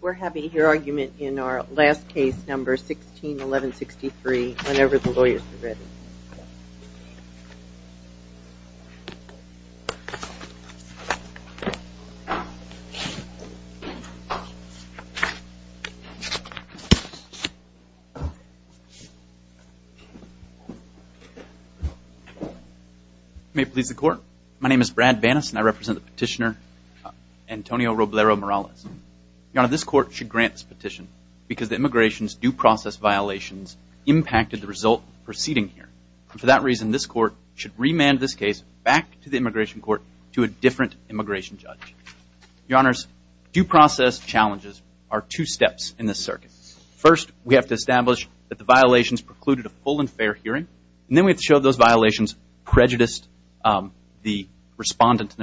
We're having your argument in our last case, number 161163, whenever the lawyers are ready. May it please the court. My name is Brad Vaness and I represent the petitioner Antonio Robleo-Morales. Your Honor, this court should grant this petition because the immigration's due process violations impacted the result proceeding here. And for that reason, this court should remand this case back to the immigration court to a different immigration judge. Your Honors, due process challenges are two steps in this circuit. First, we have to establish that the violations precluded a full and fair hearing. And then we have to show those violations prejudiced the respondent.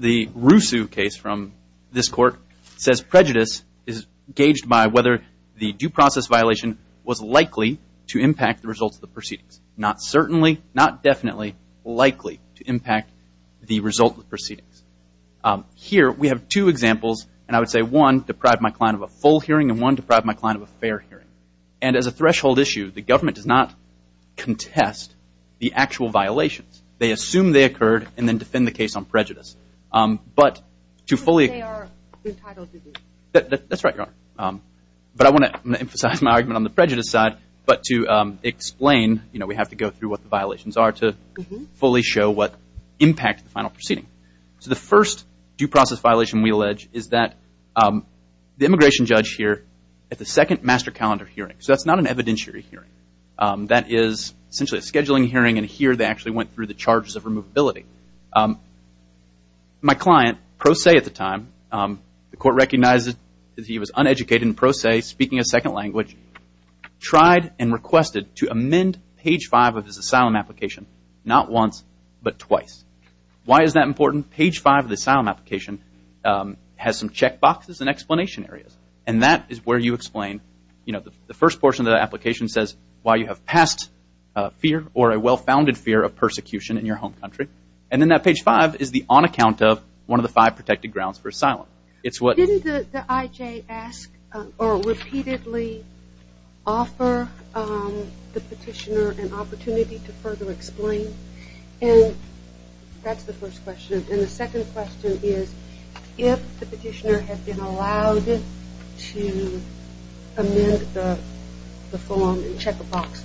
The Rusu case from this court says prejudice is gauged by whether the due process violation was likely to impact the results of the proceedings. Not certainly, not definitely likely to impact the result of the proceedings. Here we have two examples and I would say one deprived my client of a full hearing and one deprived my client of a fair hearing. And as a threshold issue, the government does not contest the actual violations. They assume they occurred and then defend the case on prejudice. But to fully... Because they are entitled to be. That's right, Your Honor. But I want to emphasize my argument on the prejudice side. But to explain, you know, we have to go through what the violations are to fully show what impact the final proceeding. So the first due process violation we allege is that the immigration judge here at the second master calendar hearing. So that's not an evidentiary hearing. That is essentially a scheduling hearing and here they actually went through the charges of removability. My client, pro se at the time, the court recognized that he was uneducated and pro se speaking a second language, tried and requested to amend page five of his asylum application, not once but twice. Why is that important? Page five of the asylum application has some check boxes and explanation areas. And that is where you explain, you know, the first portion of the application says why you have passed fear or a well-founded fear of persecution in your home country. And then that page five is the on account of one of the five protected grounds for asylum. It's what... Didn't the IJ ask or repeatedly offer the petitioner an opportunity to further explain? And that's the first question. And the second question is if the petitioner had been allowed to amend the form and check a box,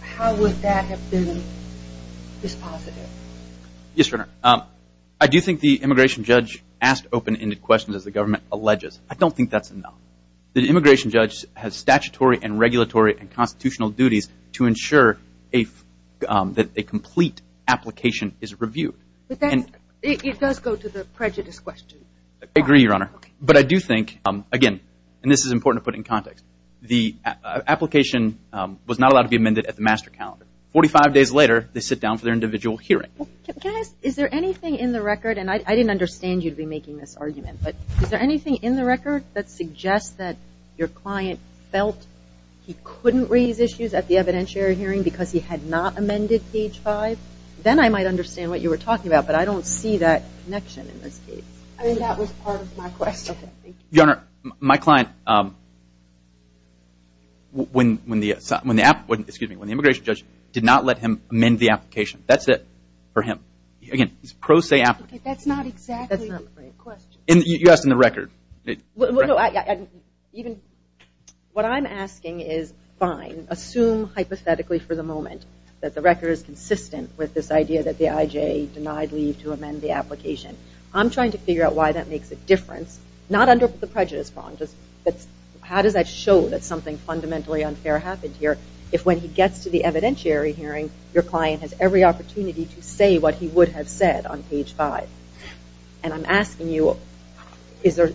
how would that have been dispositive? Yes, Your Honor. I do think the immigration judge asked open-ended questions as the government alleges. I don't think that's enough. The immigration judge has statutory and regulatory and constitutional duties to ensure that a complete application is reviewed. It does go to the prejudice question. I agree, Your Honor. But I do think, again, and this is important to put in context, the application was not allowed to be amended at the master calendar. Forty-five days later, they sit down for their individual hearing. Is there anything in the record, and I didn't understand you to be making this argument, but is there anything in the record that suggests that your client felt he couldn't raise issues at the evidentiary hearing because he had not amended page five? Then I might understand what you were talking about, but I don't see that connection in this case. I mean, that was part of my question. Okay, thank you. Your Honor, my client, when the immigration judge did not let him amend the application, that's it for him. Again, pro se application. Okay, that's not exactly a question. You asked in the record. What I'm asking is, fine, assume hypothetically for the moment that the record is consistent with this idea that the I.J. denied leave to amend the application. I'm trying to figure out why that makes a difference, not under the prejudice prong, just how does that show that something fundamentally unfair happened here if when he gets to the evidentiary hearing, your client has every opportunity to say what he would have said on page five? And I'm asking you, is it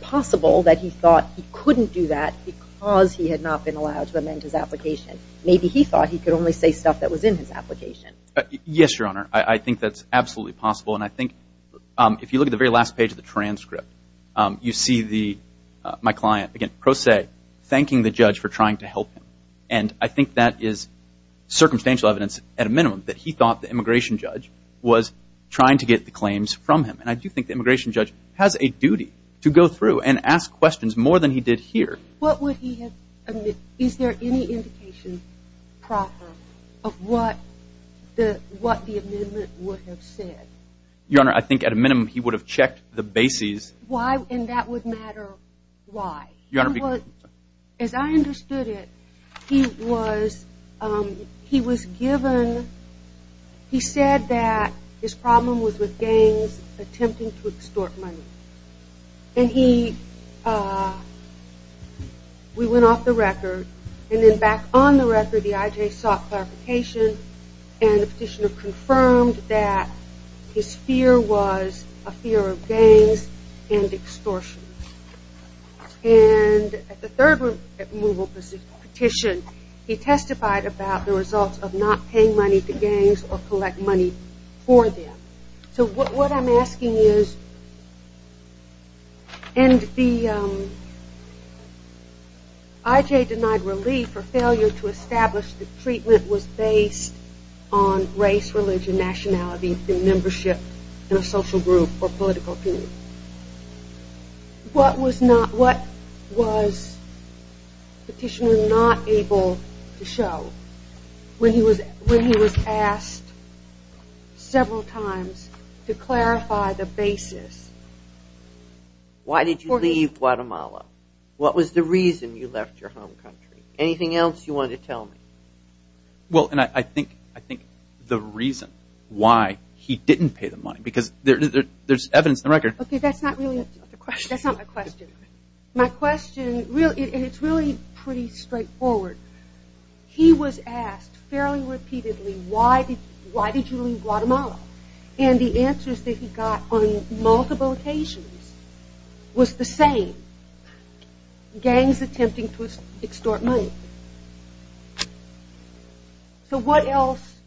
possible that he thought he couldn't do that because he had not been allowed to amend his application? Maybe he thought he could only say stuff that was in his application. Yes, Your Honor. I think that's absolutely possible, and I think if you look at the very last page of the transcript, you see my client, again, pro se, thanking the judge for trying to help him. That he thought the immigration judge was trying to get the claims from him. And I do think the immigration judge has a duty to go through and ask questions more than he did here. What would he have, is there any indication proper of what the amendment would have said? Your Honor, I think at a minimum he would have checked the bases. Why, and that would matter why? Your Honor. As I understood it, he was given, he said that his problem was with gangs attempting to extort money. And he, we went off the record, and then back on the record, the IJ sought clarification, and the petitioner confirmed that his fear was a fear of gangs and extortion. And at the third removal petition, he testified about the results of not paying money to gangs or collect money for them. So what I'm asking is, and the IJ denied relief or failure to establish that treatment was based on race, religion, nationality, membership in a social group or political group. What was petitioner not able to show when he was asked several times to clarify the basis? Why did you leave Guatemala? What was the reason you left your home country? Anything else you wanted to tell me? Well, and I think the reason why he didn't pay the money, because there's evidence in the record. Okay, that's not really the question. That's not the question. My question, and it's really pretty straightforward. He was asked fairly repeatedly, why did you leave Guatemala? And the answers that he got on multiple occasions was the same. Gangs attempting to extort money. So what else?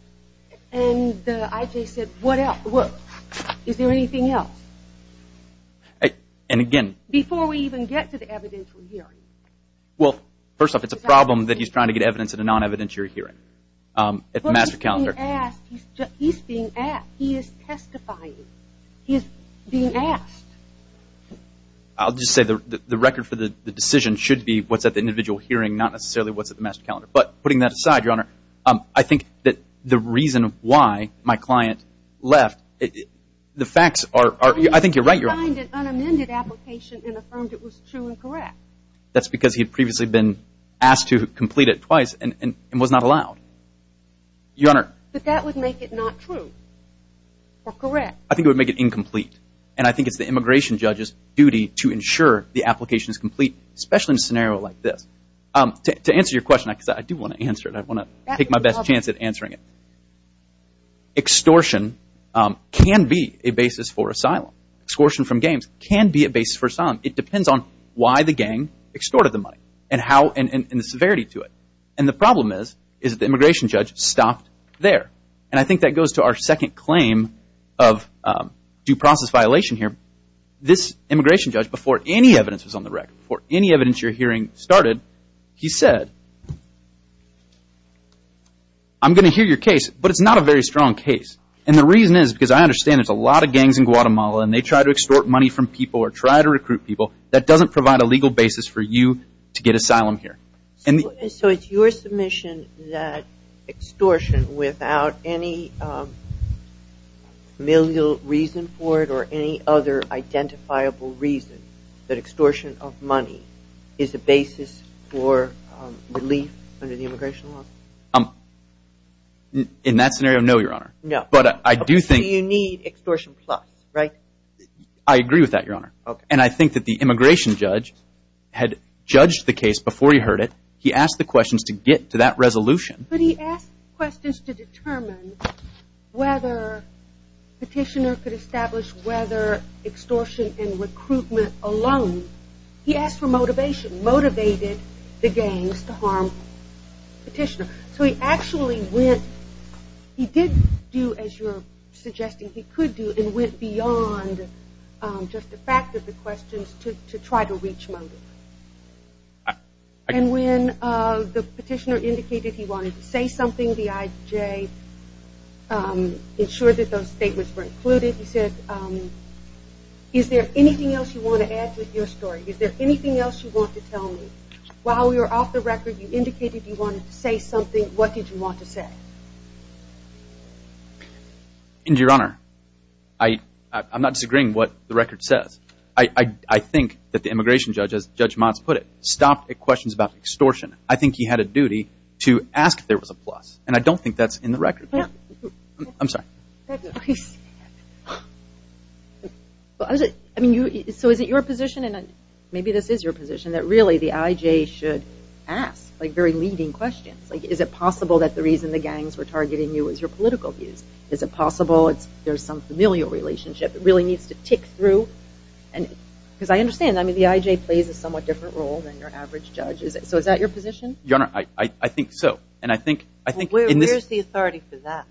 And the IJ said, what else? Is there anything else? Before we even get to the evidentiary hearing. Well, first off, it's a problem that he's trying to get evidence in a non-evidentiary hearing. But he's being asked. He's being asked. He is testifying. He's being asked. I'll just say the record for the decision should be what's at the individual hearing, not necessarily what's at the master calendar. But putting that aside, Your Honor, I think that the reason why my client left, the facts are, I think you're right. He signed an unamended application and affirmed it was true and correct. That's because he had previously been asked to complete it twice and was not allowed. Your Honor. But that would make it not true or correct. I think it would make it incomplete. And I think it's the immigration judge's duty to ensure the application is complete, especially in a scenario like this. To answer your question, because I do want to answer it. I want to take my best chance at answering it. Extortion can be a basis for asylum. Extortion from gangs can be a basis for asylum. It depends on why the gang extorted the money and the severity to it. And the problem is that the immigration judge stopped there. And I think that goes to our second claim of due process violation here. This immigration judge, before any evidence was on the record, before any evidence you're hearing started, he said, I'm going to hear your case, but it's not a very strong case. And the reason is because I understand there's a lot of gangs in Guatemala and they try to extort money from people or try to recruit people. That doesn't provide a legal basis for you to get asylum here. So it's your submission that extortion without any familial reason for it or any other identifiable reason, that extortion of money is a basis for relief under the immigration law? In that scenario, no, Your Honor. No. So you need extortion plus, right? I agree with that, Your Honor. And I think that the immigration judge had judged the case before he heard it. He asked the questions to get to that resolution. But he asked questions to determine whether Petitioner could establish whether extortion and recruitment alone. He asked for motivation, motivated the gangs to harm Petitioner. So he actually went, he did do as you're suggesting he could do and went beyond just the fact of the questions to try to reach motivation. And when the Petitioner indicated he wanted to say something, the IJ ensured that those statements were included. He said, is there anything else you want to add to your story? Is there anything else you want to tell me? While you're off the record, you indicated you wanted to say something. What did you want to say? And, Your Honor, I'm not disagreeing what the record says. I think that the immigration judge, as Judge Motz put it, stopped at questions about extortion. I think he had a duty to ask if there was a plus. And I don't think that's in the record. I'm sorry. So is it your position, and maybe this is your position, that really the IJ should ask very leading questions? Is it possible that the reason the gangs were targeting you is your political views? Is it possible there's some familial relationship that really needs to tick through? Because I understand, the IJ plays a somewhat different role than your average judge. So is that your position? Your Honor, I think so. Where's the authority for that?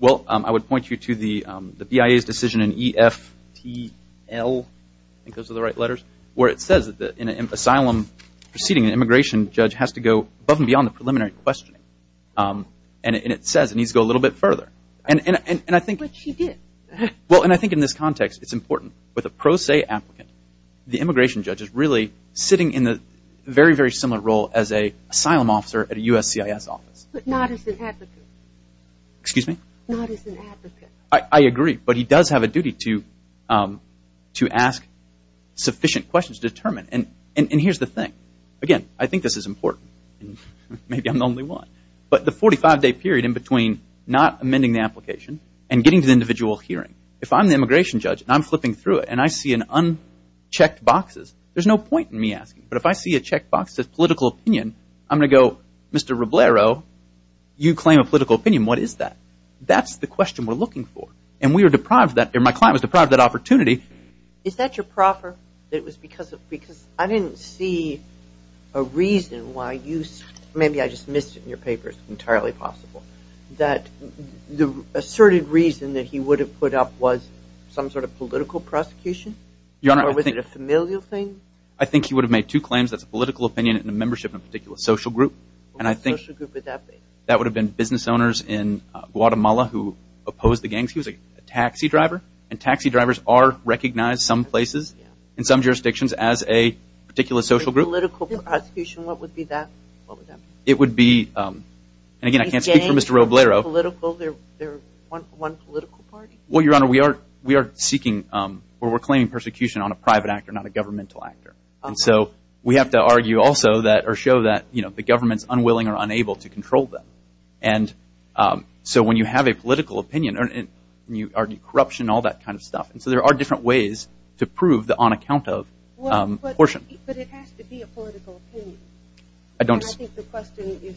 Well, I would point you to the BIA's decision in EFTL, I think those are the right letters, where it says that in an asylum proceeding, an immigration judge has to go above and beyond the preliminary questioning. And it says it needs to go a little bit further. But she did. Well, and I think in this context, it's important. With a pro se applicant, the immigration judge is really sitting in a very, very similar role as an asylum officer at a USCIS office. But not as an advocate. Excuse me? Not as an advocate. I agree. But he does have a duty to ask sufficient questions to determine. And here's the thing. Again, I think this is important. Maybe I'm the only one. But the 45-day period in between not amending the application and getting to the individual hearing, if I'm the immigration judge and I'm flipping through it and I see unchecked boxes, there's no point in me asking. But if I see a checkbox that says political opinion, I'm going to go, Mr. Roblero, you claim a political opinion. What is that? That's the question we're looking for. And my client was deprived of that opportunity. Is that your proper? Because I didn't see a reason why you – maybe I just missed it in your paper. It's entirely possible. That the asserted reason that he would have put up was some sort of political prosecution? Or was it a familial thing? I think he would have made two claims. That's a political opinion and a membership in a particular social group. And I think that would have been business owners in Guatemala who opposed the gangs. He was a taxi driver. And taxi drivers are recognized some places in some jurisdictions as a particular social group. A political prosecution, what would be that? It would be – and again, I can't speak for Mr. Roblero. They're one political party? Well, Your Honor, we are seeking or we're claiming persecution on a private actor, not a governmental actor. And so we have to argue also that – or show that the government is unwilling or unable to control them. And so when you have a political opinion and you argue corruption and all that kind of stuff. And so there are different ways to prove the on account of portion. But it has to be a political opinion. I don't – I think the question is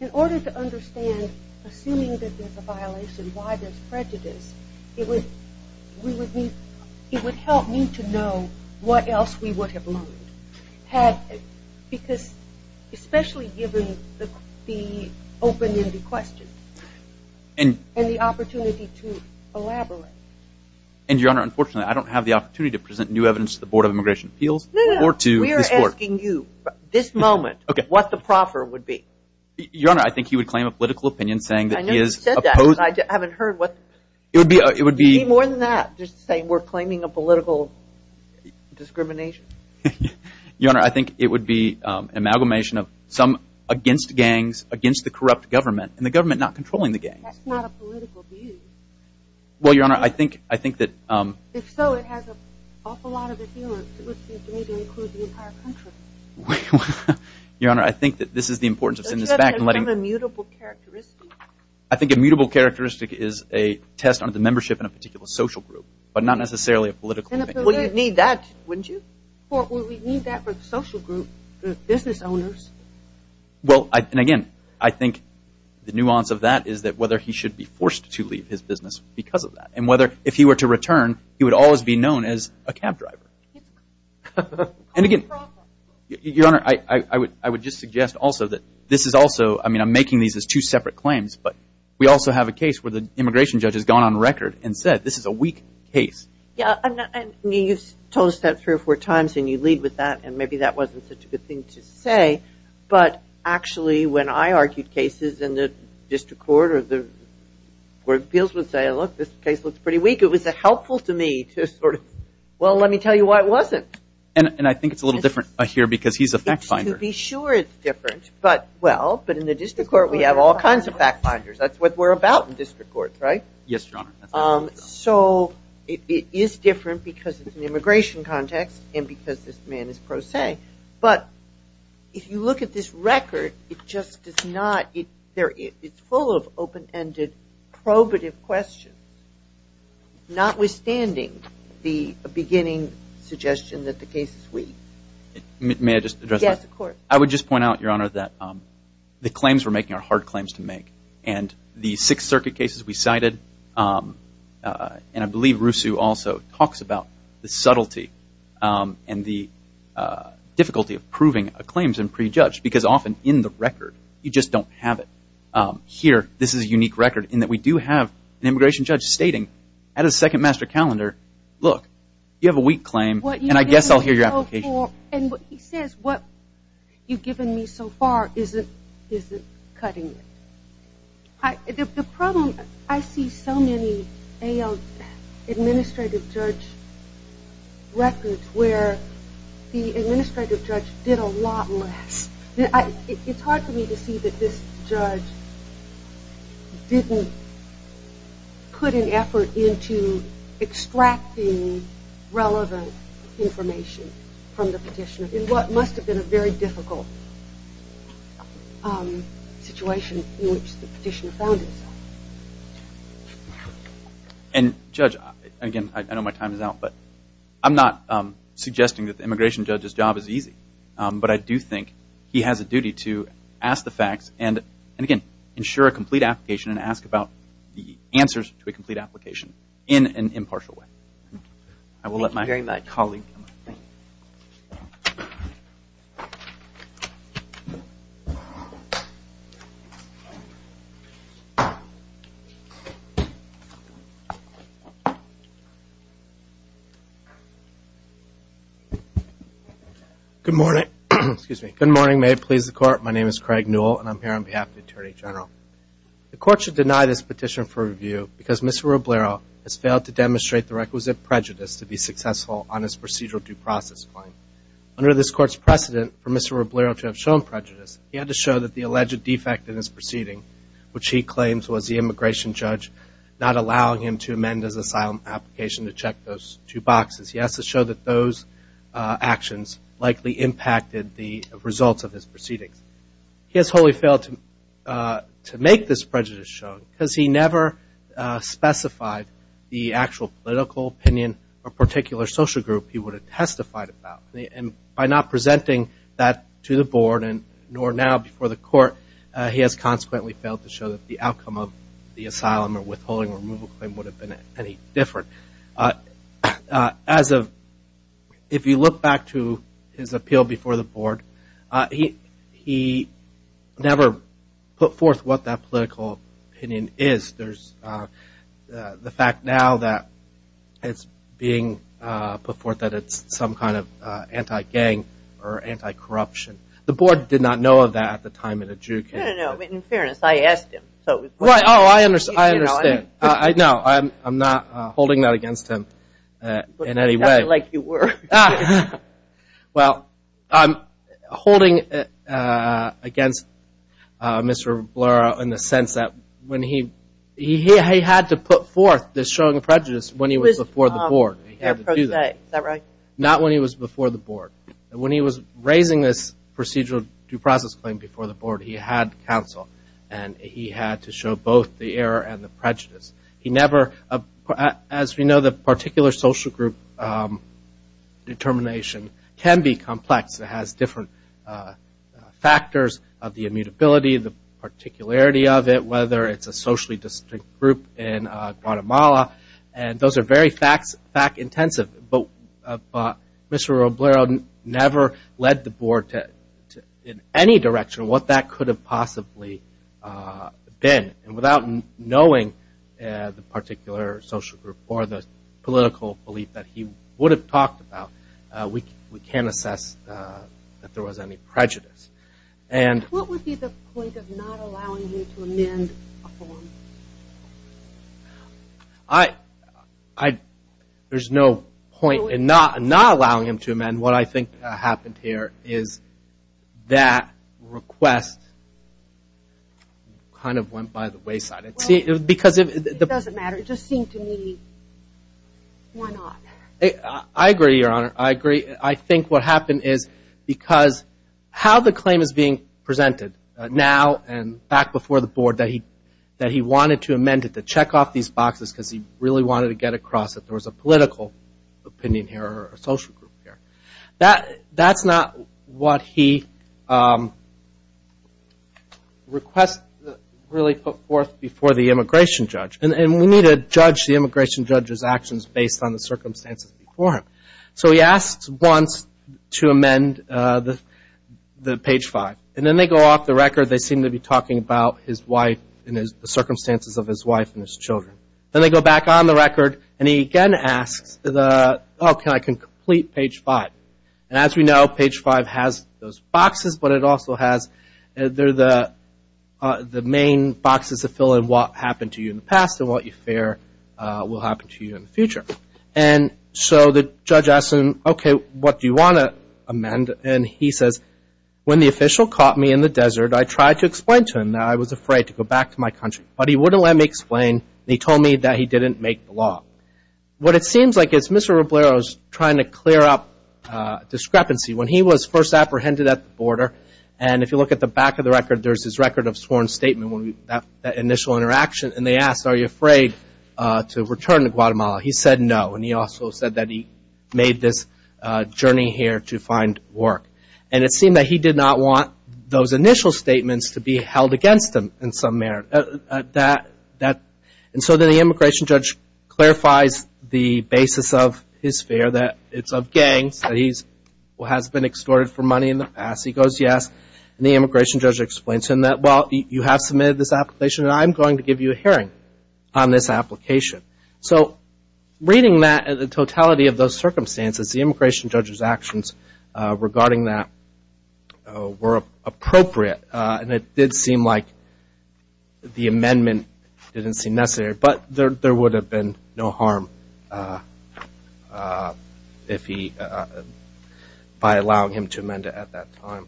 in order to understand, assuming that there's a violation, why there's prejudice, it would help me to know what else we would have learned. Because especially given the open-ended question and the opportunity to elaborate. And, Your Honor, unfortunately I don't have the opportunity to present new evidence to the Board of Immigration Appeals or to this court. I'm asking you this moment what the proffer would be. Your Honor, I think he would claim a political opinion saying that he is opposed – I know you said that, but I haven't heard what – It would be – It would be more than that just to say we're claiming a political discrimination. Your Honor, I think it would be amalgamation of some against gangs, against the corrupt government, and the government not controlling the gangs. That's not a political view. Well, Your Honor, I think that – If so, it has an awful lot of adherence. It would seem to me to include the entire country. Wait a minute. Your Honor, I think that this is the importance of sending this back and letting – The judge has some immutable characteristic. I think immutable characteristic is a test on the membership in a particular social group, but not necessarily a political opinion. Well, you'd need that, wouldn't you? Well, we'd need that for the social group, the business owners. Well, and again, I think the nuance of that is that whether he should be forced to leave his business because of that. And whether if he were to return, he would always be known as a cab driver. And again, Your Honor, I would just suggest also that this is also – I mean, I'm making these as two separate claims, but we also have a case where the immigration judge has gone on record and said this is a weak case. Yeah, and you've told us that three or four times, and you lead with that, and maybe that wasn't such a good thing to say, but actually when I argued cases in the district court or the court of appeals would say, well, look, this case looks pretty weak. It was helpful to me to sort of, well, let me tell you why it wasn't. And I think it's a little different here because he's a fact finder. To be sure it's different, but well, but in the district court we have all kinds of fact finders. That's what we're about in district courts, right? Yes, Your Honor. So it is different because it's an immigration context and because this man is pro se, but if you look at this record, it just does not – it's full of open-ended probative questions, notwithstanding the beginning suggestion that the case is weak. May I just address that? Yes, of course. I would just point out, Your Honor, that the claims we're making are hard claims to make, and the Sixth Circuit cases we cited, and I believe Rusu also talks about the subtlety and the difficulty of proving claims in pre-judge because often in the record you just don't have it. Here, this is a unique record in that we do have an immigration judge stating at a second master calendar, look, you have a weak claim and I guess I'll hear your application. And he says what you've given me so far isn't cutting it. The problem, I see so many administrative judge records where the administrative judge did a lot less. It's hard for me to see that this judge didn't put an effort into extracting relevant information from the petitioner in what must have been a very difficult situation in which the petitioner found himself. And, Judge, again, I know my time is out, but I'm not suggesting that the immigration judge's job is easy, but I do think he has a duty to ask the facts and, again, ensure a complete application and ask about the answers to a complete application in an impartial way. I will let my colleague. Good morning. Good morning. May it please the Court. My name is Craig Newell and I'm here on behalf of the Attorney General. The Court should deny this petition for review because Mr. Roblero has failed to demonstrate the requisite prejudice to be successful on his procedural due process claim. Under this Court's precedent for Mr. Roblero to have shown prejudice, he had to show that the alleged defect in his proceeding, which he claims was the immigration judge not allowing him to amend his asylum application to check those two boxes, he has to show that those actions likely impacted the results of his proceedings. He has wholly failed to make this prejudice show because he never specified the actual political opinion or particular social group he would have testified about. And by not presenting that to the Board, nor now before the Court, he has consequently failed to show that the outcome of the asylum or withholding removal claim would have been any different. As of, if you look back to his appeal before the Board, he never put forth what that political opinion is. There's the fact now that it's being put forth that it's some kind of anti-gang or anti-corruption. The Board did not know of that at the time in a due case. No, no, no. In fairness, I asked him. Oh, I understand. No, I'm not holding that against him in any way. But not like you were. Well, I'm holding it against Mr. Blura in the sense that when he, he had to put forth this showing prejudice when he was before the Board. He had to do that. Is that right? Not when he was before the Board. When he was raising this procedural due process claim before the Board, he had counsel and he had to show both the error and the prejudice. He never, as we know, the particular social group determination can be complex. It has different factors of the immutability, the particularity of it, whether it's a socially distinct group in Guatemala, and those are very fact-intensive. But Mr. Obrero never led the Board in any direction of what that could have possibly been. And without knowing the particular social group or the political belief that he would have talked about, we can't assess that there was any prejudice. What would be the point of not allowing you to amend a form? There's no point in not allowing him to amend. What I think happened here is that request kind of went by the wayside. It doesn't matter. It just seemed to me, why not? I agree, Your Honor. I agree. I think what happened is because how the claim is being presented now and back before the Board that he wanted to amend it, to check off these boxes because he really wanted to get across that there was a political opinion here or a social group here. That's not what he really put forth before the immigration judge. And we need to judge the immigration judge's actions based on the circumstances before him. So he asked once to amend the page five. And then they go off the record. They seem to be talking about his wife and the circumstances of his wife and his children. Then they go back on the record, and he again asks, oh, can I complete page five? As we know, page five has those boxes, but it also has the main boxes that fill in what happened to you in the past and what you fear will happen to you in the future. So the judge asks him, okay, what do you want to amend? And he says, when the official caught me in the desert, I tried to explain to him that I was afraid to go back to my country. But he wouldn't let me explain, and he told me that he didn't make the law. What it seems like is Mr. Roblero is trying to clear up discrepancy. When he was first apprehended at the border, and if you look at the back of the record, there's his record of sworn statement, that initial interaction. And they asked, are you afraid to return to Guatemala? He said no, and he also said that he made this journey here to find work. And it seemed that he did not want those initial statements to be held against him in some manner. And so then the immigration judge clarifies the basis of his fear that it's of gangs, that he has been extorted for money in the past. He goes yes, and the immigration judge explains to him that, well, you have submitted this application, and I'm going to give you a hearing on this application. So reading that and the totality of those circumstances, the immigration judge's actions regarding that were appropriate, and it did seem like the amendment didn't seem necessary. But there would have been no harm by allowing him to amend it at that time.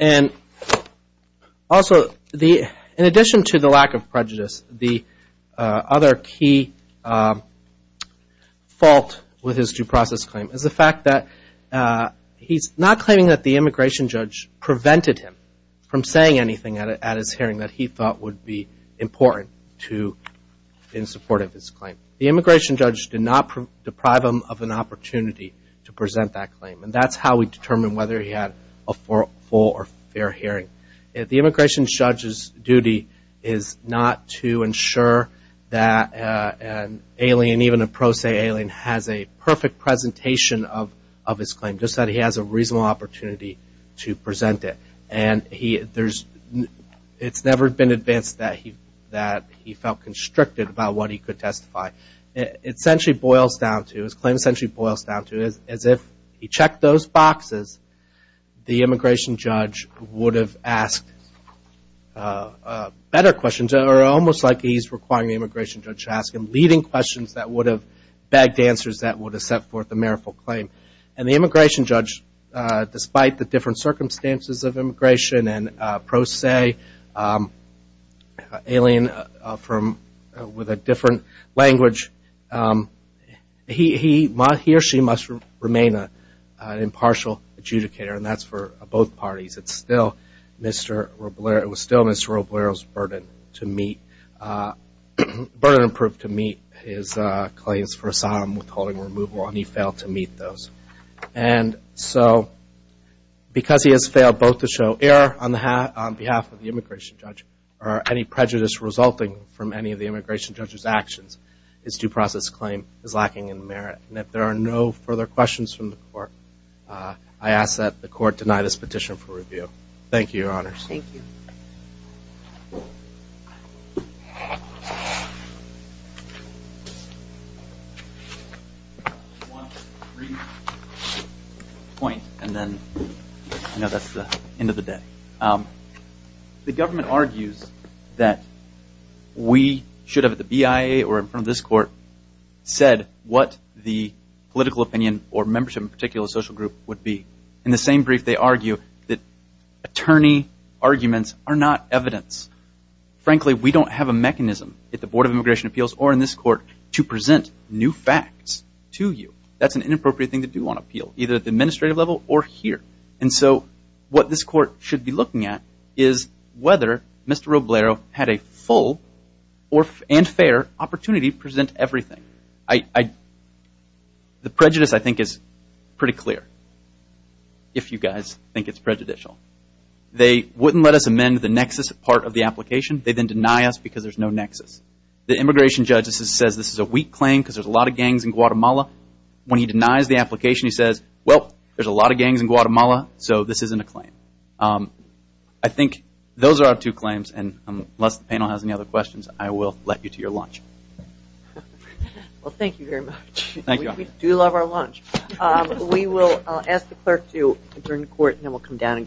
And also, in addition to the lack of prejudice, the other key fault with his due process claim is the fact that he's not claiming that the immigration judge prevented him from saying anything at his hearing that he thought would be important in support of his claim. The immigration judge did not deprive him of an opportunity to present that claim, and that's how we determine whether he had a full or fair hearing. The immigration judge's duty is not to ensure that an alien, even a pro se alien, has a perfect presentation of his claim, just that he has a reasonable opportunity to present it. And it's never been advanced that he felt constricted about what he could testify. It essentially boils down to, his claim essentially boils down to, as if he checked those boxes, the immigration judge would have asked better questions, or almost like he's requiring the immigration judge to ask him leading questions that would have bagged answers that would have set forth a meritorious claim. And the immigration judge, despite the different circumstances of immigration and pro se alien with a different language, he or she must remain an impartial adjudicator, and that's for both parties. It was still Mr. Roblero's burden to meet, burden approved to meet his claims for asylum with holding removal, and he failed to meet those. And so because he has failed both to show error on behalf of the immigration judge or any prejudice resulting from any of the immigration judge's actions, his due process claim is lacking in merit. And if there are no further questions from the court, I ask that the court deny this petition for review. Thank you, Your Honors. Thank you. One brief point, and then I know that's the end of the day. The government argues that we should have at the BIA or in front of this court said what the political opinion or membership in a particular social group would be. In the same brief, they argue that attorney arguments are not evidence. Frankly, we don't have a mechanism at the Board of Immigration Appeals or in this court to present new facts to you. That's an inappropriate thing to do on appeal, either at the administrative level or here. And so what this court should be looking at is whether Mr. Roblero had a full and fair opportunity to present everything. The prejudice, I think, is pretty clear, if you guys think it's prejudicial. They wouldn't let us amend the nexus part of the application. They then deny us because there's no nexus. The immigration judge says this is a weak claim because there's a lot of gangs in Guatemala. When he denies the application, he says, well, there's a lot of gangs in Guatemala, so this isn't a claim. I think those are our two claims, and unless the panel has any other questions, I will let you to your lunch. Well, thank you very much. Thank you. We do love our lunch. We will ask the clerk to return to court, and then we'll come down and greet the panel.